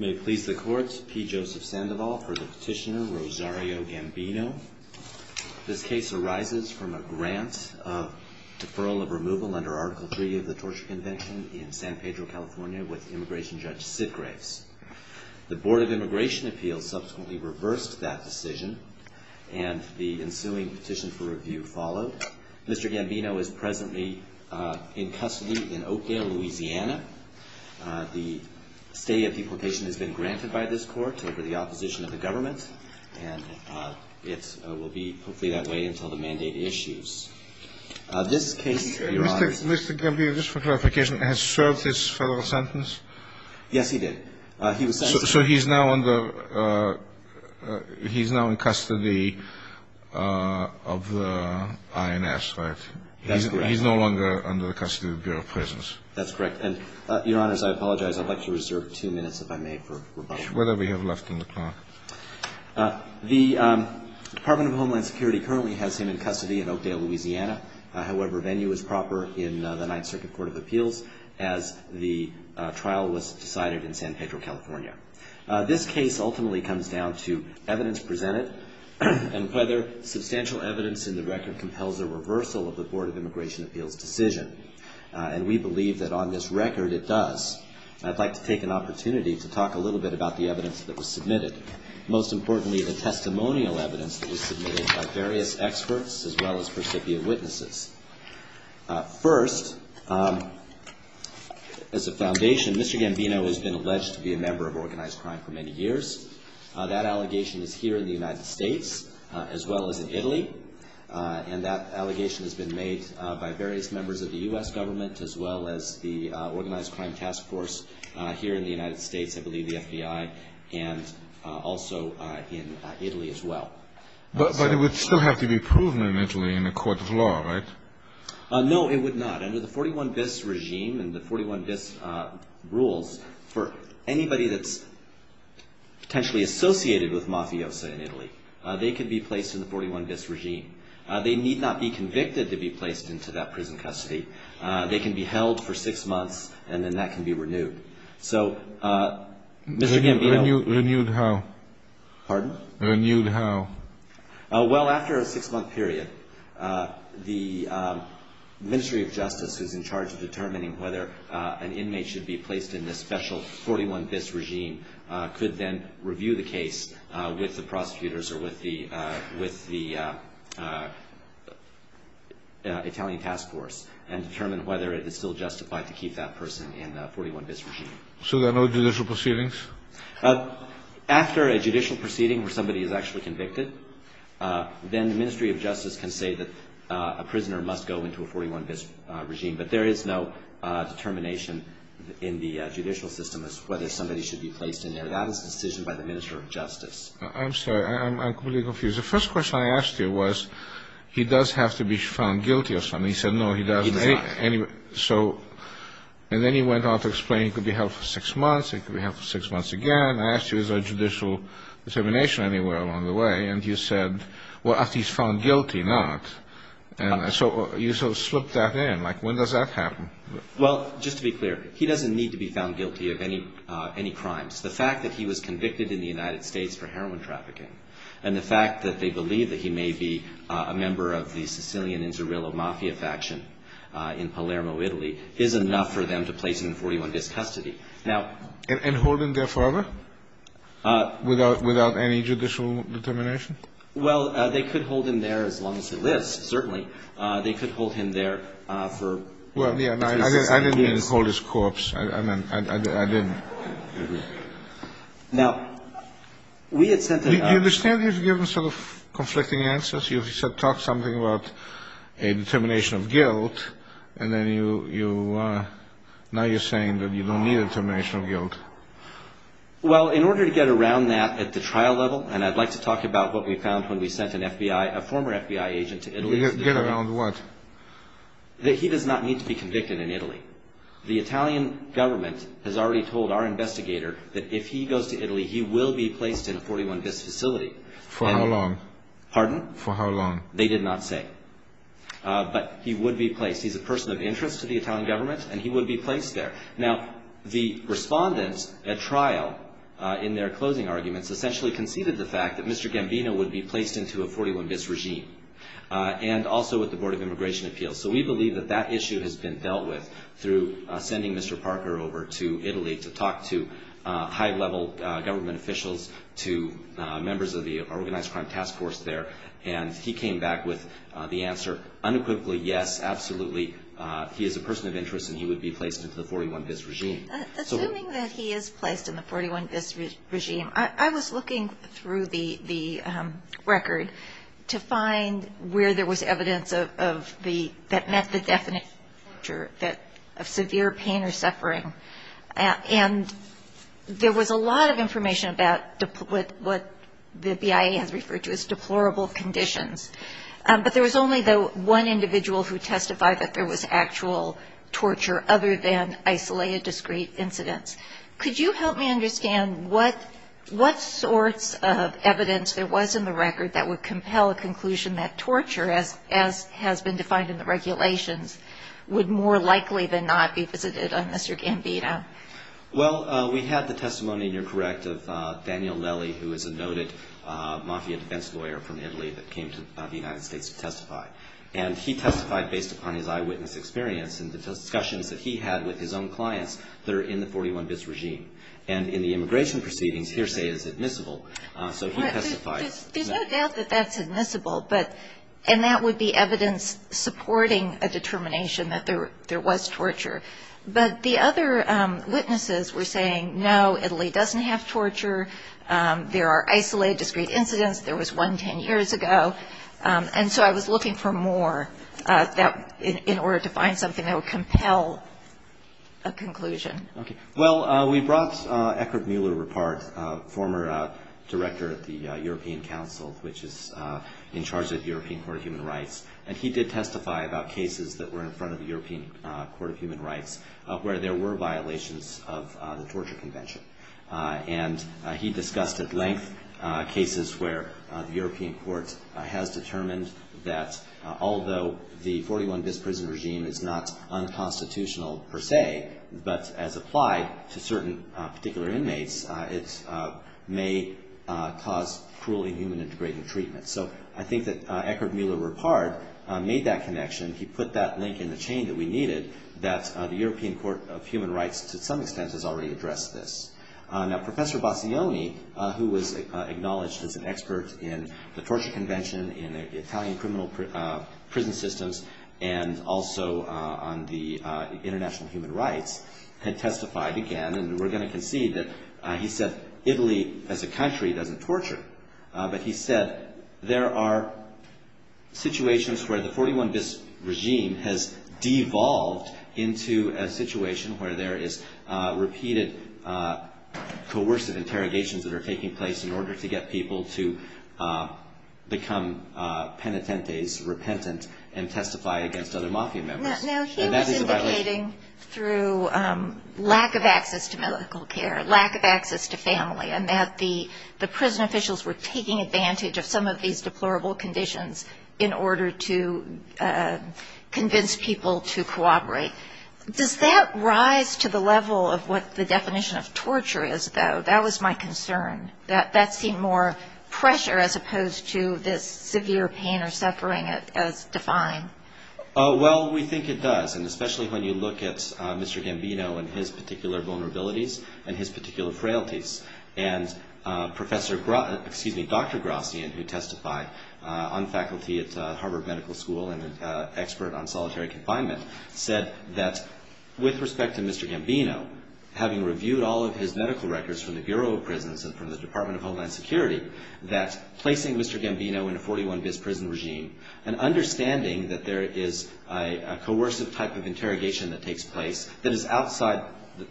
May it please the court, P. Joseph Sandoval for the petitioner Rosario Gambino. This case arises from a grant of deferral of removal under Article 3 of the Torture Convention in San Pedro, California with immigration judge Sid Graves. The Board of Immigration Appeals subsequently reversed that decision and the ensuing petition for review followed. Mr. Gambino is presently in custody in Oakdale, Louisiana. The stay of the application has been granted by this court over the opposition of the government and it will be hopefully that way until the mandate issues. This case, Your Honor. Mr. Gambino, just for clarification, has served his federal sentence? Yes, he did. So he's now under, he's now in custody of the INS, right? That's correct. He's no longer under the custody of the Bureau of Prisons. That's correct. And, Your Honors, I apologize. I'd like to reserve two minutes, if I may, for rebuttal. Whatever you have left in the clock. The Department of Homeland Security currently has him in custody in Oakdale, Louisiana. However, venue is proper in the Ninth Circuit Court of Appeals as the trial was decided in San Pedro, California. This case ultimately comes down to evidence presented and whether substantial evidence in the record compels a reversal of the Board of Immigration Appeals decision. And we believe that on this record it does. I'd like to take an opportunity to talk a little bit about the evidence that was submitted. Most importantly, the testimonial evidence that was submitted by various experts as well as recipient witnesses. First, as a foundation, Mr. Gambino has been alleged to be a member of organized crime for many years. That allegation is here in the United States as well as in Italy. And that allegation has been made by various members of the U.S. government as well as the Organized Crime Task Force here in the United States. I believe the FBI and also in Italy as well. But it would still have to be proven in Italy in a court of law, right? No, it would not. Under the 41 Bis regime and the 41 Bis rules, for anybody that's potentially associated with Mafiosa in Italy, they could be placed in the 41 Bis regime. They need not be convicted to be placed into that prison custody. They can be held for six months and then that can be renewed. So, Mr. Gambino. Renewed how? Pardon? Renewed how? Well, after a six-month period, the Ministry of Justice, who's in charge of determining whether an inmate should be placed in this special 41 Bis regime, could then review the case with the prosecutors or with the Italian task force and determine whether it is still justified to keep that person in the 41 Bis regime. So there are no judicial proceedings? After a judicial proceeding where somebody is actually convicted, then the Ministry of Justice can say that a prisoner must go into a 41 Bis regime. But there is no determination in the judicial system as to whether somebody should be placed in there. That is a decision by the Ministry of Justice. I'm sorry. I'm completely confused. The first question I asked you was, he does have to be found guilty or something. He said, no, he doesn't. He does not. And then he went on to explain he could be held for six months, he could be held for six months again. I asked you, is there judicial determination anywhere along the way? And you said, well, after he's found guilty, not. And so you sort of slipped that in. Like, when does that happen? Well, just to be clear, he doesn't need to be found guilty of any crimes. The fact that he was convicted in the United States for heroin trafficking and the fact that they believe that he may be a member of the Sicilian and Zerillo Mafia faction in Palermo, Italy, is enough for them to place him in 41 Bis custody. And hold him there forever without any judicial determination? Well, they could hold him there as long as he lives, certainly. They could hold him there for a few years. I didn't mean to hold his corpse. I didn't. Now, we had sent a... Do you understand you've given sort of conflicting answers? You said talk something about a determination of guilt, and then you... Now you're saying that you don't need a determination of guilt. Well, in order to get around that at the trial level, and I'd like to talk about what we found when we sent a former FBI agent to Italy... Get around what? That he does not need to be convicted in Italy. The Italian government has already told our investigator that if he goes to Italy, he will be placed in a 41 Bis facility. For how long? Pardon? For how long? They did not say. But he would be placed. He's a person of interest to the Italian government, and he would be placed there. Now, the respondents at trial in their closing arguments essentially conceded the fact that Mr. Gambino would be placed into a 41 Bis regime, and also with the Board of Immigration Appeals. So we believe that that issue has been dealt with through sending Mr. Parker over to Italy to talk to high-level government officials, to members of the Organized Crime Task Force there, and he came back with the answer unequivocally, yes, absolutely. He is a person of interest, and he would be placed into the 41 Bis regime. Assuming that he is placed in the 41 Bis regime, I was looking through the record to find where there was evidence that met the definition of severe pain or suffering, and there was a lot of information about what the BIA has referred to as deplorable conditions. But there was only, though, one individual who testified that there was actual torture other than isolated, discreet incidents. Could you help me understand what sorts of evidence there was in the record that would compel a conclusion that torture, as has been defined in the regulations, would more likely than not be visited on Mr. Gambino? Well, we had the testimony, and you're correct, of Daniel Lely, who is a noted mafia defense lawyer from Italy that came to the United States to testify. And he testified based upon his eyewitness experience and the discussions that he had with his own clients that are in the 41 Bis regime. And in the immigration proceedings, hearsay is admissible, so he testified. There's no doubt that that's admissible, and that would be evidence supporting a determination that there was torture. But the other witnesses were saying, no, Italy doesn't have torture. There are isolated, discreet incidents. There was one 10 years ago. And so I was looking for more in order to find something that would compel a conclusion. Okay. Well, we brought Eckhard Mueller apart, former director at the European Council, which is in charge of the European Court of Human Rights. And he did testify about cases that were in front of the European Court of Human Rights where there were violations of the torture convention. And he discussed at length cases where the European Court has determined that although the 41 Bis prison regime is not unconstitutional per se, but as applied to certain particular inmates, it may cause cruelly human-integrated treatment. So I think that Eckhard Mueller repared made that connection. He put that link in the chain that we needed, that the European Court of Human Rights to some extent has already addressed this. Now, Professor Bassioni, who was acknowledged as an expert in the torture convention, in Italian criminal prison systems, and also on the international human rights, had testified again. And we're going to concede that he said Italy as a country doesn't torture. But he said there are situations where the 41 Bis regime has devolved into a situation where there is repeated coercive interrogations that are taking place in order to get people to become penitentes, repentant, and testify against other mafia members. And that is a violation. through lack of access to medical care, lack of access to family, and that the prison officials were taking advantage of some of these deplorable conditions in order to convince people to cooperate. Does that rise to the level of what the definition of torture is, though? That was my concern, that that seemed more pressure as opposed to this severe pain or suffering as defined. Well, we think it does. And especially when you look at Mr. Gambino and his particular vulnerabilities and his particular frailties. And Dr. Grossian, who testified on faculty at Harvard Medical School and an expert on solitary confinement, said that with respect to Mr. Gambino, having reviewed all of his medical records from the Bureau of Prisons and from the Department of Homeland Security, that placing Mr. Gambino in a 41 Bis prison regime and understanding that there is a coercive type of interrogation that takes place that is outside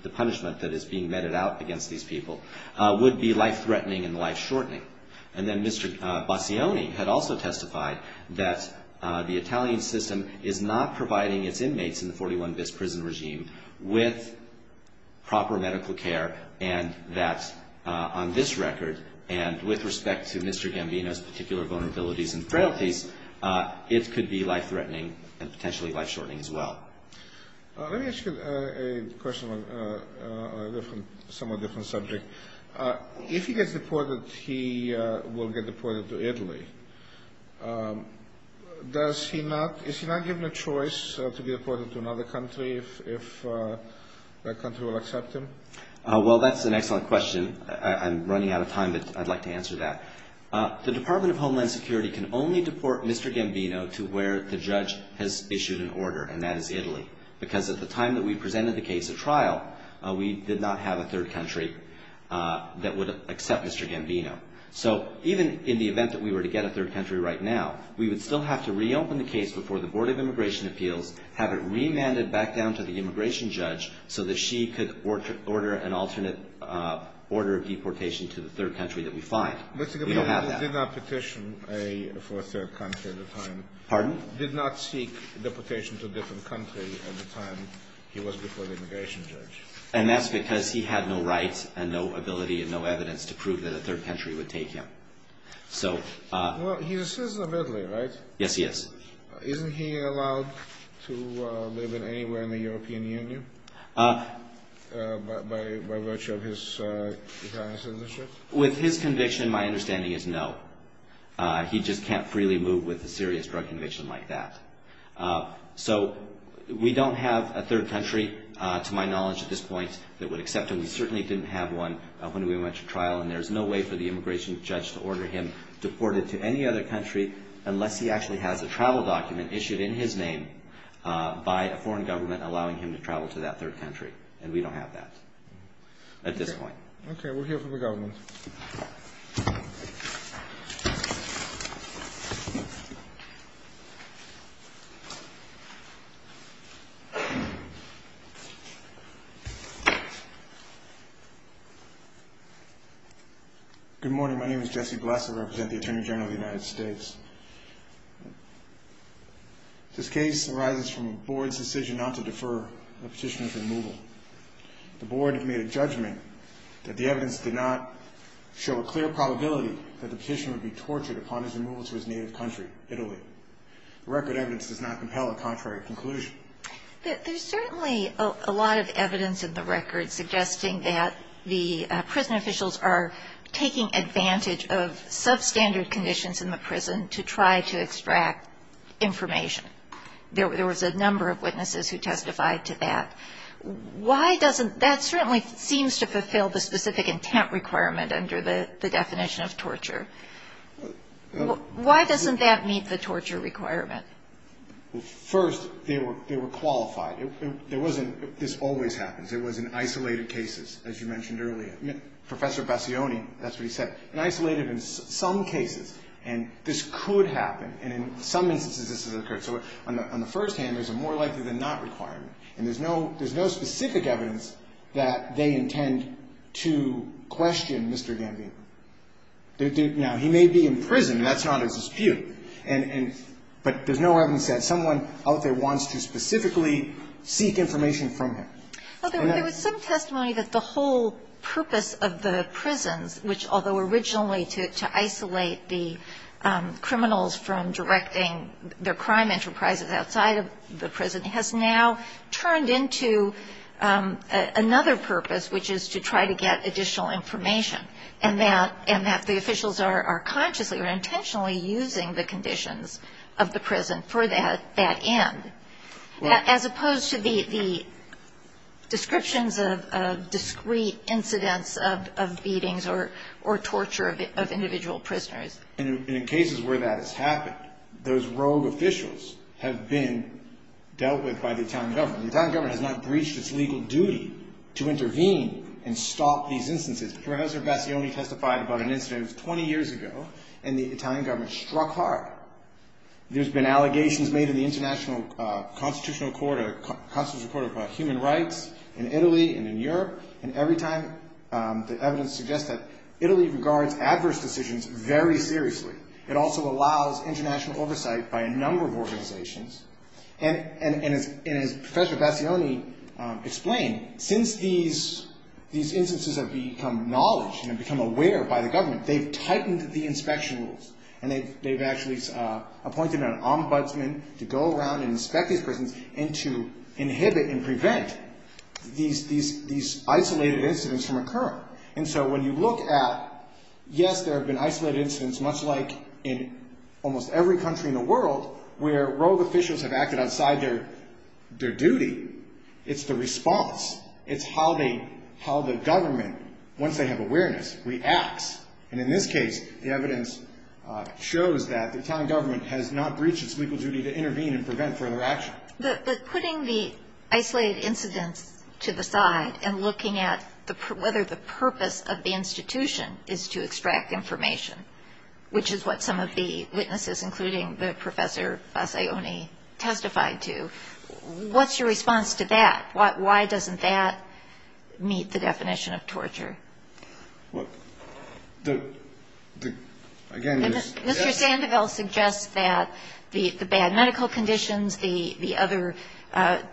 the punishment that is being meted out against these people would be life-threatening and life-shortening. And then Mr. Bassioni had also testified that the Italian system is not providing its inmates in the 41 Bis prison regime with proper medical care and that on this record and with respect to Mr. Gambino's particular vulnerabilities and frailties, it could be life-threatening and potentially life-shortening as well. Let me ask you a question on a somewhat different subject. If he gets deported, he will get deported to Italy. Is he not given a choice to be deported to another country if that country will accept him? Well, that's an excellent question. I'm running out of time, but I'd like to answer that. The Department of Homeland Security can only deport Mr. Gambino to where the judge has issued an order, and that is Italy, because at the time that we presented the case at trial, we did not have a third country that would accept Mr. Gambino. So even in the event that we were to get a third country right now, we would still have to reopen the case before the Board of Immigration Appeals, have it remanded back down to the immigration judge so that she could order an alternate order of deportation to the third country that we find. Mr. Gambino did not petition for a third country at the time. Pardon? Did not seek deportation to a different country at the time he was before the immigration judge. And that's because he had no rights and no ability and no evidence to prove that a third country would take him. Well, he's a citizen of Italy, right? Yes, he is. Isn't he allowed to live anywhere in the European Union by virtue of his Italian citizenship? With his conviction, my understanding is no. He just can't freely move with a serious drug conviction like that. So we don't have a third country, to my knowledge at this point, that would accept him. We certainly didn't have one when we went to trial, and there's no way for the immigration judge to order him deported to any other country unless he actually has a travel document issued in his name by a foreign government allowing him to travel to that third country. And we don't have that at this point. Okay, we'll hear from the government. Thank you. Good morning. My name is Jesse Blesser. I represent the Attorney General of the United States. This case arises from a board's decision not to defer a petition of removal. The board made a judgment that the evidence did not show a clear probability that the petitioner would be tortured upon his removal to his native country, Italy. The record evidence does not compel a contrary conclusion. There's certainly a lot of evidence in the record suggesting that the prison officials are taking advantage of substandard conditions in the prison to try to extract information. There was a number of witnesses who testified to that. That certainly seems to fulfill the specific intent requirement under the definition of torture. Why doesn't that meet the torture requirement? First, they were qualified. This always happens. It was in isolated cases, as you mentioned earlier. Professor Bassioni, that's what he said, in some cases, and this could happen, and in some instances, this has occurred. So on the first hand, there's a more likely than not requirement, and there's no specific evidence that they intend to question Mr. Gambino. Now, he may be in prison, and that's not a dispute, but there's no evidence that someone out there wants to specifically seek information from him. Well, there was some testimony that the whole purpose of the prisons, which although originally to isolate the criminals from directing their crime enterprises outside of the prison, has now turned into another purpose, which is to try to get additional information, and that the officials are consciously or intentionally using the conditions of the prison for that end, as opposed to the descriptions of discrete incidents of beatings or torture of individual prisoners. And in cases where that has happened, those rogue officials have been dealt with by the Italian government. The Italian government has not breached its legal duty to intervene and stop these instances. Professor Bassioni testified about an incident that was 20 years ago, and the Italian government struck hard. There's been allegations made in the International Constitutional Court of Human Rights in Italy and in Europe, and every time the evidence suggests that Italy regards adverse decisions very seriously. It also allows international oversight by a number of organizations, and as Professor Bassioni explained, since these instances have become knowledge and become aware by the government, they've tightened the inspection rules, and they've actually appointed an ombudsman to go around and inspect these prisons and to inhibit and prevent these isolated incidents from occurring. And so when you look at, yes, there have been isolated incidents, much like in almost every country in the world, where rogue officials have acted outside their duty, it's the response. It's how the government, once they have awareness, reacts. And in this case, the evidence shows that the Italian government has not breached its legal duty to intervene and prevent further action. But putting the isolated incidents to the side and looking at whether the purpose of the institution is to extract information, which is what some of the witnesses, including Professor Bassioni, testified to, what's your response to that? Why doesn't that meet the definition of torture? Mr. Sandoval suggests that the bad medical conditions, the other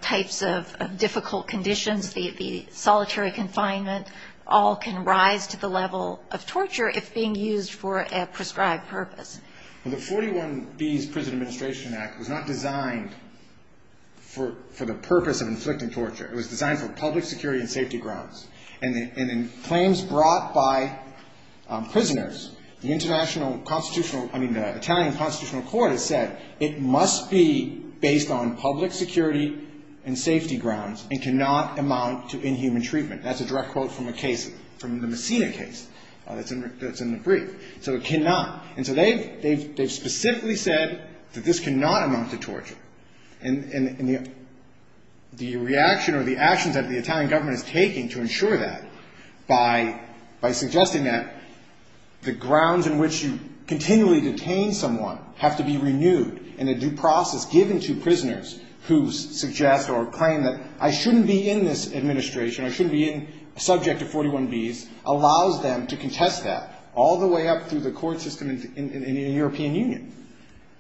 types of difficult conditions, the solitary confinement, all can rise to the level of torture if being used for a prescribed purpose. Well, the 41B's Prison Administration Act was not designed for the purpose of inflicting torture. It was designed for public security and safety grounds. And in claims brought by prisoners, the international constitutional, I mean, the Italian constitutional court has said it must be based on public security and safety grounds and cannot amount to inhuman treatment. That's a direct quote from a case, from the Messina case that's in the brief. So it cannot. And so they've specifically said that this cannot amount to torture. And the reaction or the actions that the Italian government is taking to ensure that by suggesting that the grounds in which you continually detain someone have to be renewed in a due process given to prisoners who suggest or claim that I shouldn't be in this administration, I shouldn't be subject to 41B's, allows them to contest that all the way up through the court system in the European Union.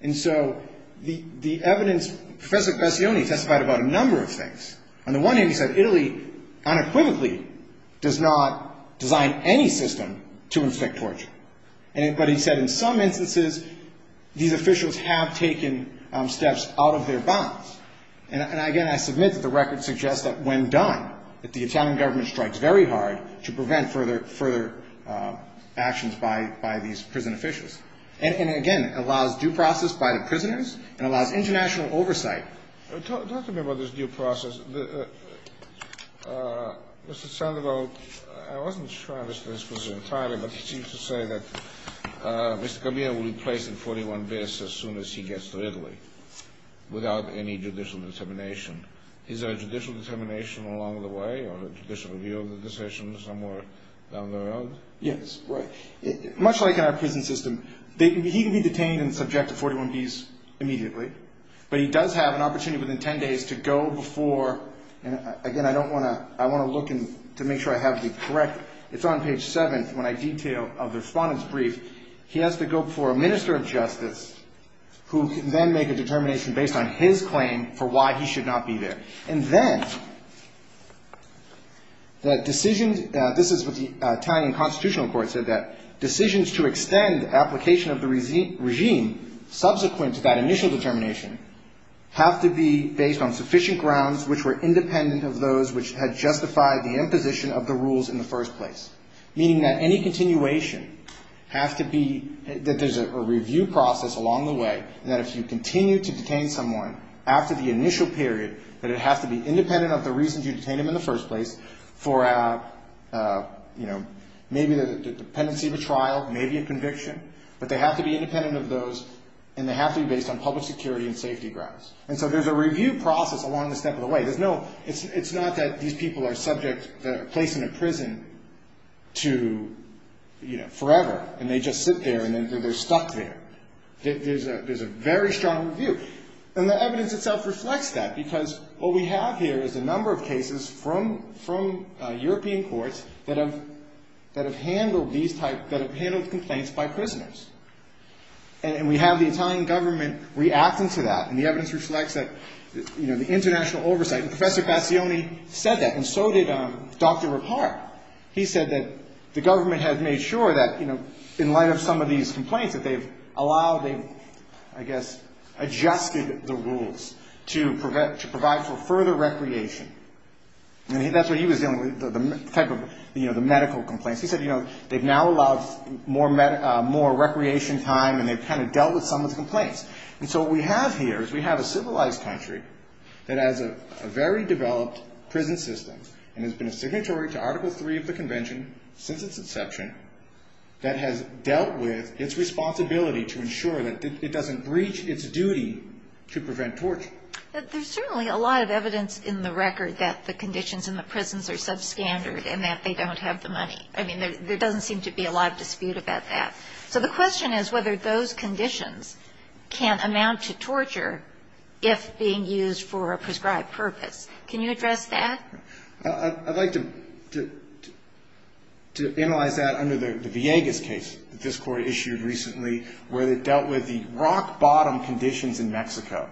And so the evidence, Professor Passioni testified about a number of things. On the one hand, he said Italy unequivocally does not design any system to inflict torture. But he said in some instances, these officials have taken steps out of their bounds. And, again, I submit that the record suggests that when done, that the Italian government strikes very hard to prevent further actions by these prison officials. And, again, allows due process by the prisoners and allows international oversight. Talk to me about this due process. Mr. Sandoval, I wasn't sure I understood this question entirely, but he seems to say that Mr. Is there a judicial determination along the way or a judicial view of the decision somewhere down the road? Yes. Much like in our prison system, he can be detained and subject to 41B's immediately. But he does have an opportunity within 10 days to go before, and, again, I want to look to make sure I have it correct. It's on page 7 when I detail the respondent's brief. He has to go before a minister of justice who can then make a determination based on his claim for why he should not be there. And then the decision, this is what the Italian constitutional court said, that decisions to extend application of the regime subsequent to that initial determination have to be based on sufficient grounds which were independent of those which had to be, that there's a review process along the way, and that if you continue to detain someone after the initial period, that it has to be independent of the reasons you detained him in the first place for maybe the dependency of a trial, maybe a conviction, but they have to be independent of those, and they have to be based on public security and safety grounds. And so there's a review process along the step of the way. There's no, it's not that these people are subject, placed in a prison to, you know, forever, and they just sit there, and then they're stuck there. There's a very strong review. And the evidence itself reflects that, because what we have here is a number of cases from European courts that have handled complaints by prisoners, and we have the Italian government reacting to that, and the evidence reflects that, you know, the international oversight, and Professor Bassioni said that, and so did Dr. Rippard. He said that the government had made sure that, you know, in light of some of these complaints, that they've allowed, they've, I guess, adjusted the rules to provide for further recreation. And that's what he was dealing with, the type of, you know, the medical complaints. He said, you know, they've now allowed more recreation time, and they've kind of dealt with some of the complaints. And so what we have here is we have a civilized country that has a very developed prison system, and has been a signatory to Article III of the Convention since its inception, that has dealt with its responsibility to ensure that it doesn't breach its duty to prevent torture. But there's certainly a lot of evidence in the record that the conditions in the prisons are substandard, and that they don't have the money. I mean, there doesn't seem to be a lot of dispute about that. So the question is whether those conditions can amount to torture if being used for a prescribed purpose. Can you address that? I'd like to analyze that under the Villegas case that this Court issued recently, where it dealt with the rock-bottom conditions in Mexico.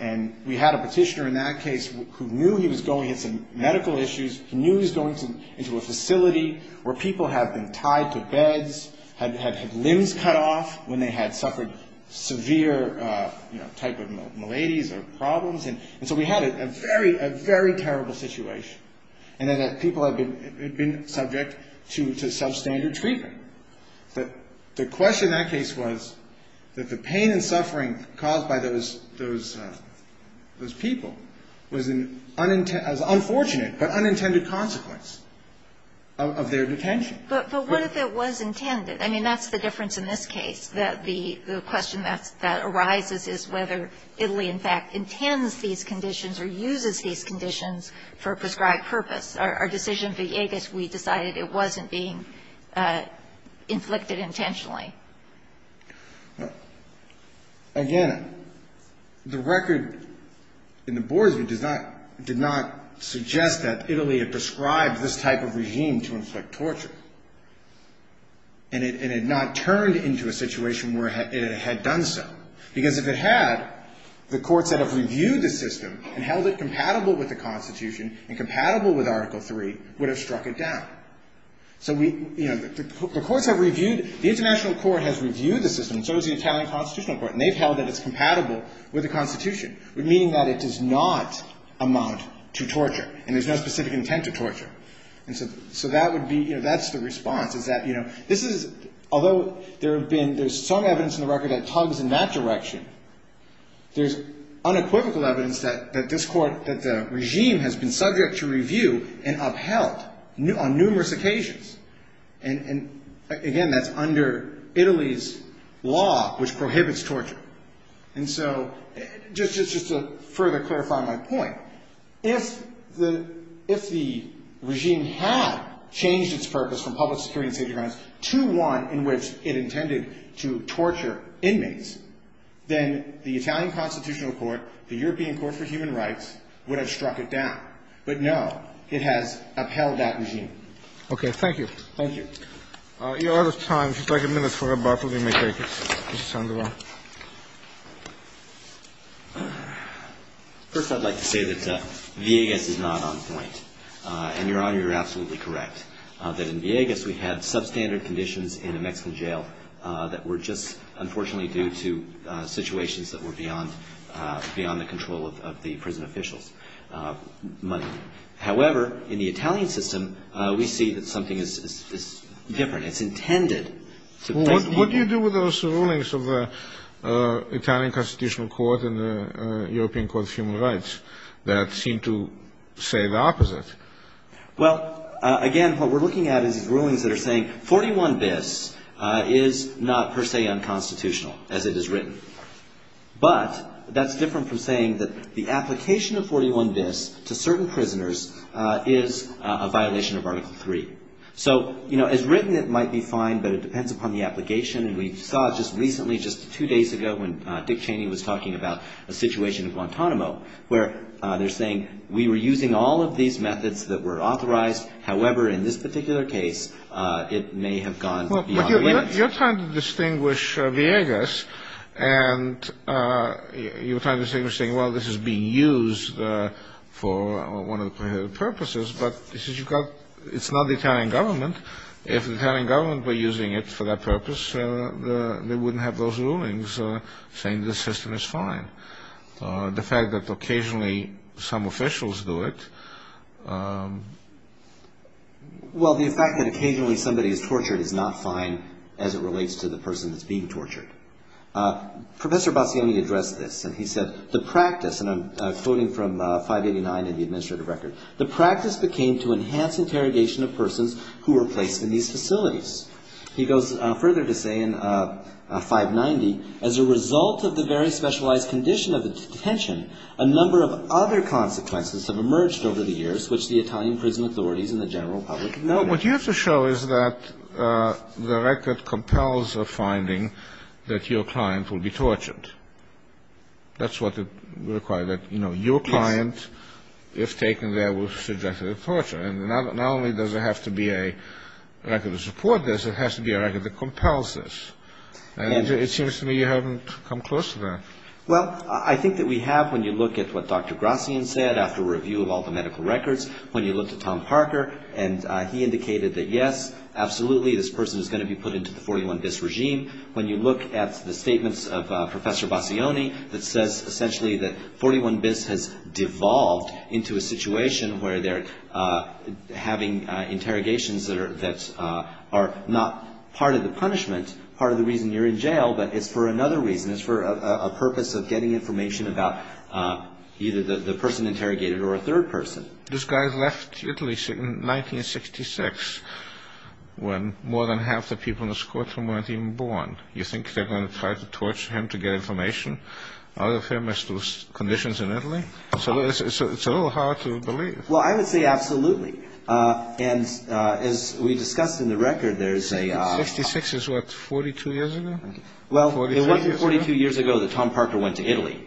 And we had a petitioner in that case who knew he was going into medical issues, knew he was going into a facility where people had been tied to beds, had limbs cut off when they had suffered severe, you know, type of maladies or problems. And so we had a very, very terrible situation, in that people had been subject to substandard treatment. The question in that case was that the pain and suffering caused by those people was an unfortunate but unintended consequence of their detention. But what if it was intended? I mean, that's the difference in this case, that the question that arises is whether Italy, in fact, intends these conditions or uses these conditions for a prescribed purpose. Our decision, Villegas, we decided it wasn't being inflicted intentionally. Again, the record in the Boards did not suggest that Italy had prescribed this type of regime to inflict torture. And it had not turned into a situation where it had done so, because if it had, the courts that have reviewed the system and held it compatible with the Constitution and compatible with Article III would have struck it down. So we, you know, the courts have reviewed, the International Court has reviewed the system, and so has the Italian Constitutional Court, and they've held that it's compatible with the Constitution, meaning that it does not amount to torture, and there's no specific intent to torture. And so that would be, you know, that's the response, is that, you know, this is, although there have been, there's some evidence in the record that tugs in that direction, there's unequivocal evidence that this court, that the regime has been subject to review and upheld on numerous occasions. And, again, that's under Italy's law, which prohibits torture. And so, just to further clarify my point, if the regime had changed its purpose from public security and safety grounds to one in which it intended to torture inmates, then the Italian Constitutional Court, the European Court for Human Rights would have struck it down. But, no, it has upheld that regime. Okay. Thank you. Thank you. Your Honor, if you'd like a minute for rebuttal, you may take it. Mr. Sandoval. First, I'd like to say that Villegas is not on point. And, Your Honor, you're absolutely correct, that in Villegas we had substandard conditions in a Mexican jail that were just unfortunately due to situations that were beyond, beyond the control of the prison officials. However, in the Italian system, we see that something is different. It's intended. What do you do with those rulings of the Italian Constitutional Court and the European Court of Human Rights that seem to say the opposite? Well, again, what we're looking at is rulings that are saying 41 bis is not per se unconstitutional, as it is written. But that's different from saying that the application of 41 bis to certain prisoners is a violation of Article III. So, you know, as written, it might be fine, but it depends upon the application. And we saw just recently, just two days ago, when Dick Cheney was talking about a situation in Guantanamo where they're saying we were using all of these methods that were authorized. However, in this particular case, it may have gone beyond the limits. You're trying to distinguish Villegas, and you're trying to distinguish, saying, well, this is being used for one of the purposes. But it's not the Italian government. If the Italian government were using it for that purpose, they wouldn't have those rulings saying the system is fine. The fact that occasionally some officials do it. Well, the fact that occasionally somebody is tortured is not fine as it relates to the person that's being tortured. Professor Bassioni addressed this, and he said, the practice, and I'm quoting from 589 in the administrative record, the practice became to enhance interrogation of persons who were placed in these facilities. He goes further to say in 590, as a result of the very specialized condition of the detention, a number of other consequences have emerged over the years which the Italian prison authorities and the general public have noted. Well, what you have to show is that the record compels a finding that your client will be tortured. That's what it requires, that, you know, your client, if taken there, will be subjected to torture. And not only does it have to be a record to support this, it has to be a record that compels this. And it seems to me you haven't come close to that. Well, I think that we have when you look at what Dr. Grassian said after a review of all the medical records, when you look at Tom Parker, and he indicated that, yes, absolutely, this person is going to be put into the 41-bis regime. When you look at the statements of Professor Bassioni, that says essentially that 41-bis has devolved into a situation where they're having interrogations that are not part of the punishment, part of the reason you're in jail, but it's for another reason, it's for a purpose of getting information about either the person interrogated or a third person. This guy left Italy in 1966 when more than half the people in this courtroom weren't even born. You think they're going to try to torture him to get information out of him as to his conditions in Italy? It's a little hard to believe. Well, I would say absolutely. And as we discussed in the record, there's a... 42 years ago? Well, it wasn't 42 years ago that Tom Parker went to Italy.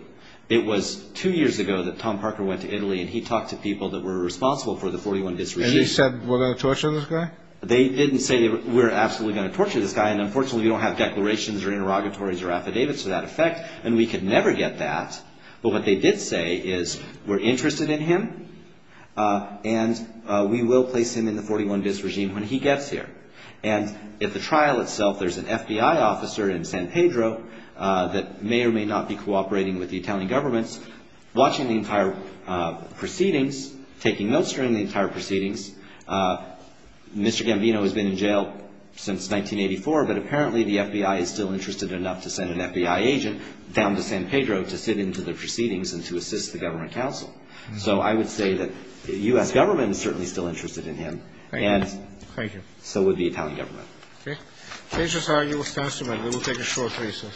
It was two years ago that Tom Parker went to Italy, and he talked to people that were responsible for the 41-bis regime. And he said we're going to torture this guy? They didn't say we're absolutely going to torture this guy, and unfortunately we don't have declarations or interrogatories or affidavits to that effect, and we could never get that, but what they did say is we're interested in him, and we will place him in the 41-bis regime when he gets here. And at the trial itself, there's an FBI officer in San Pedro that may or may not be cooperating with the Italian government, watching the entire proceedings, taking notes during the entire proceedings. Mr. Gambino has been in jail since 1984, but apparently the FBI is still interested enough to send an FBI agent down to San Pedro to sit into the proceedings and to assist the government counsel. So I would say that the U.S. government is certainly still interested in him. Thank you. And so would the Italian government. Okay. These are your statements. We will take a short recess.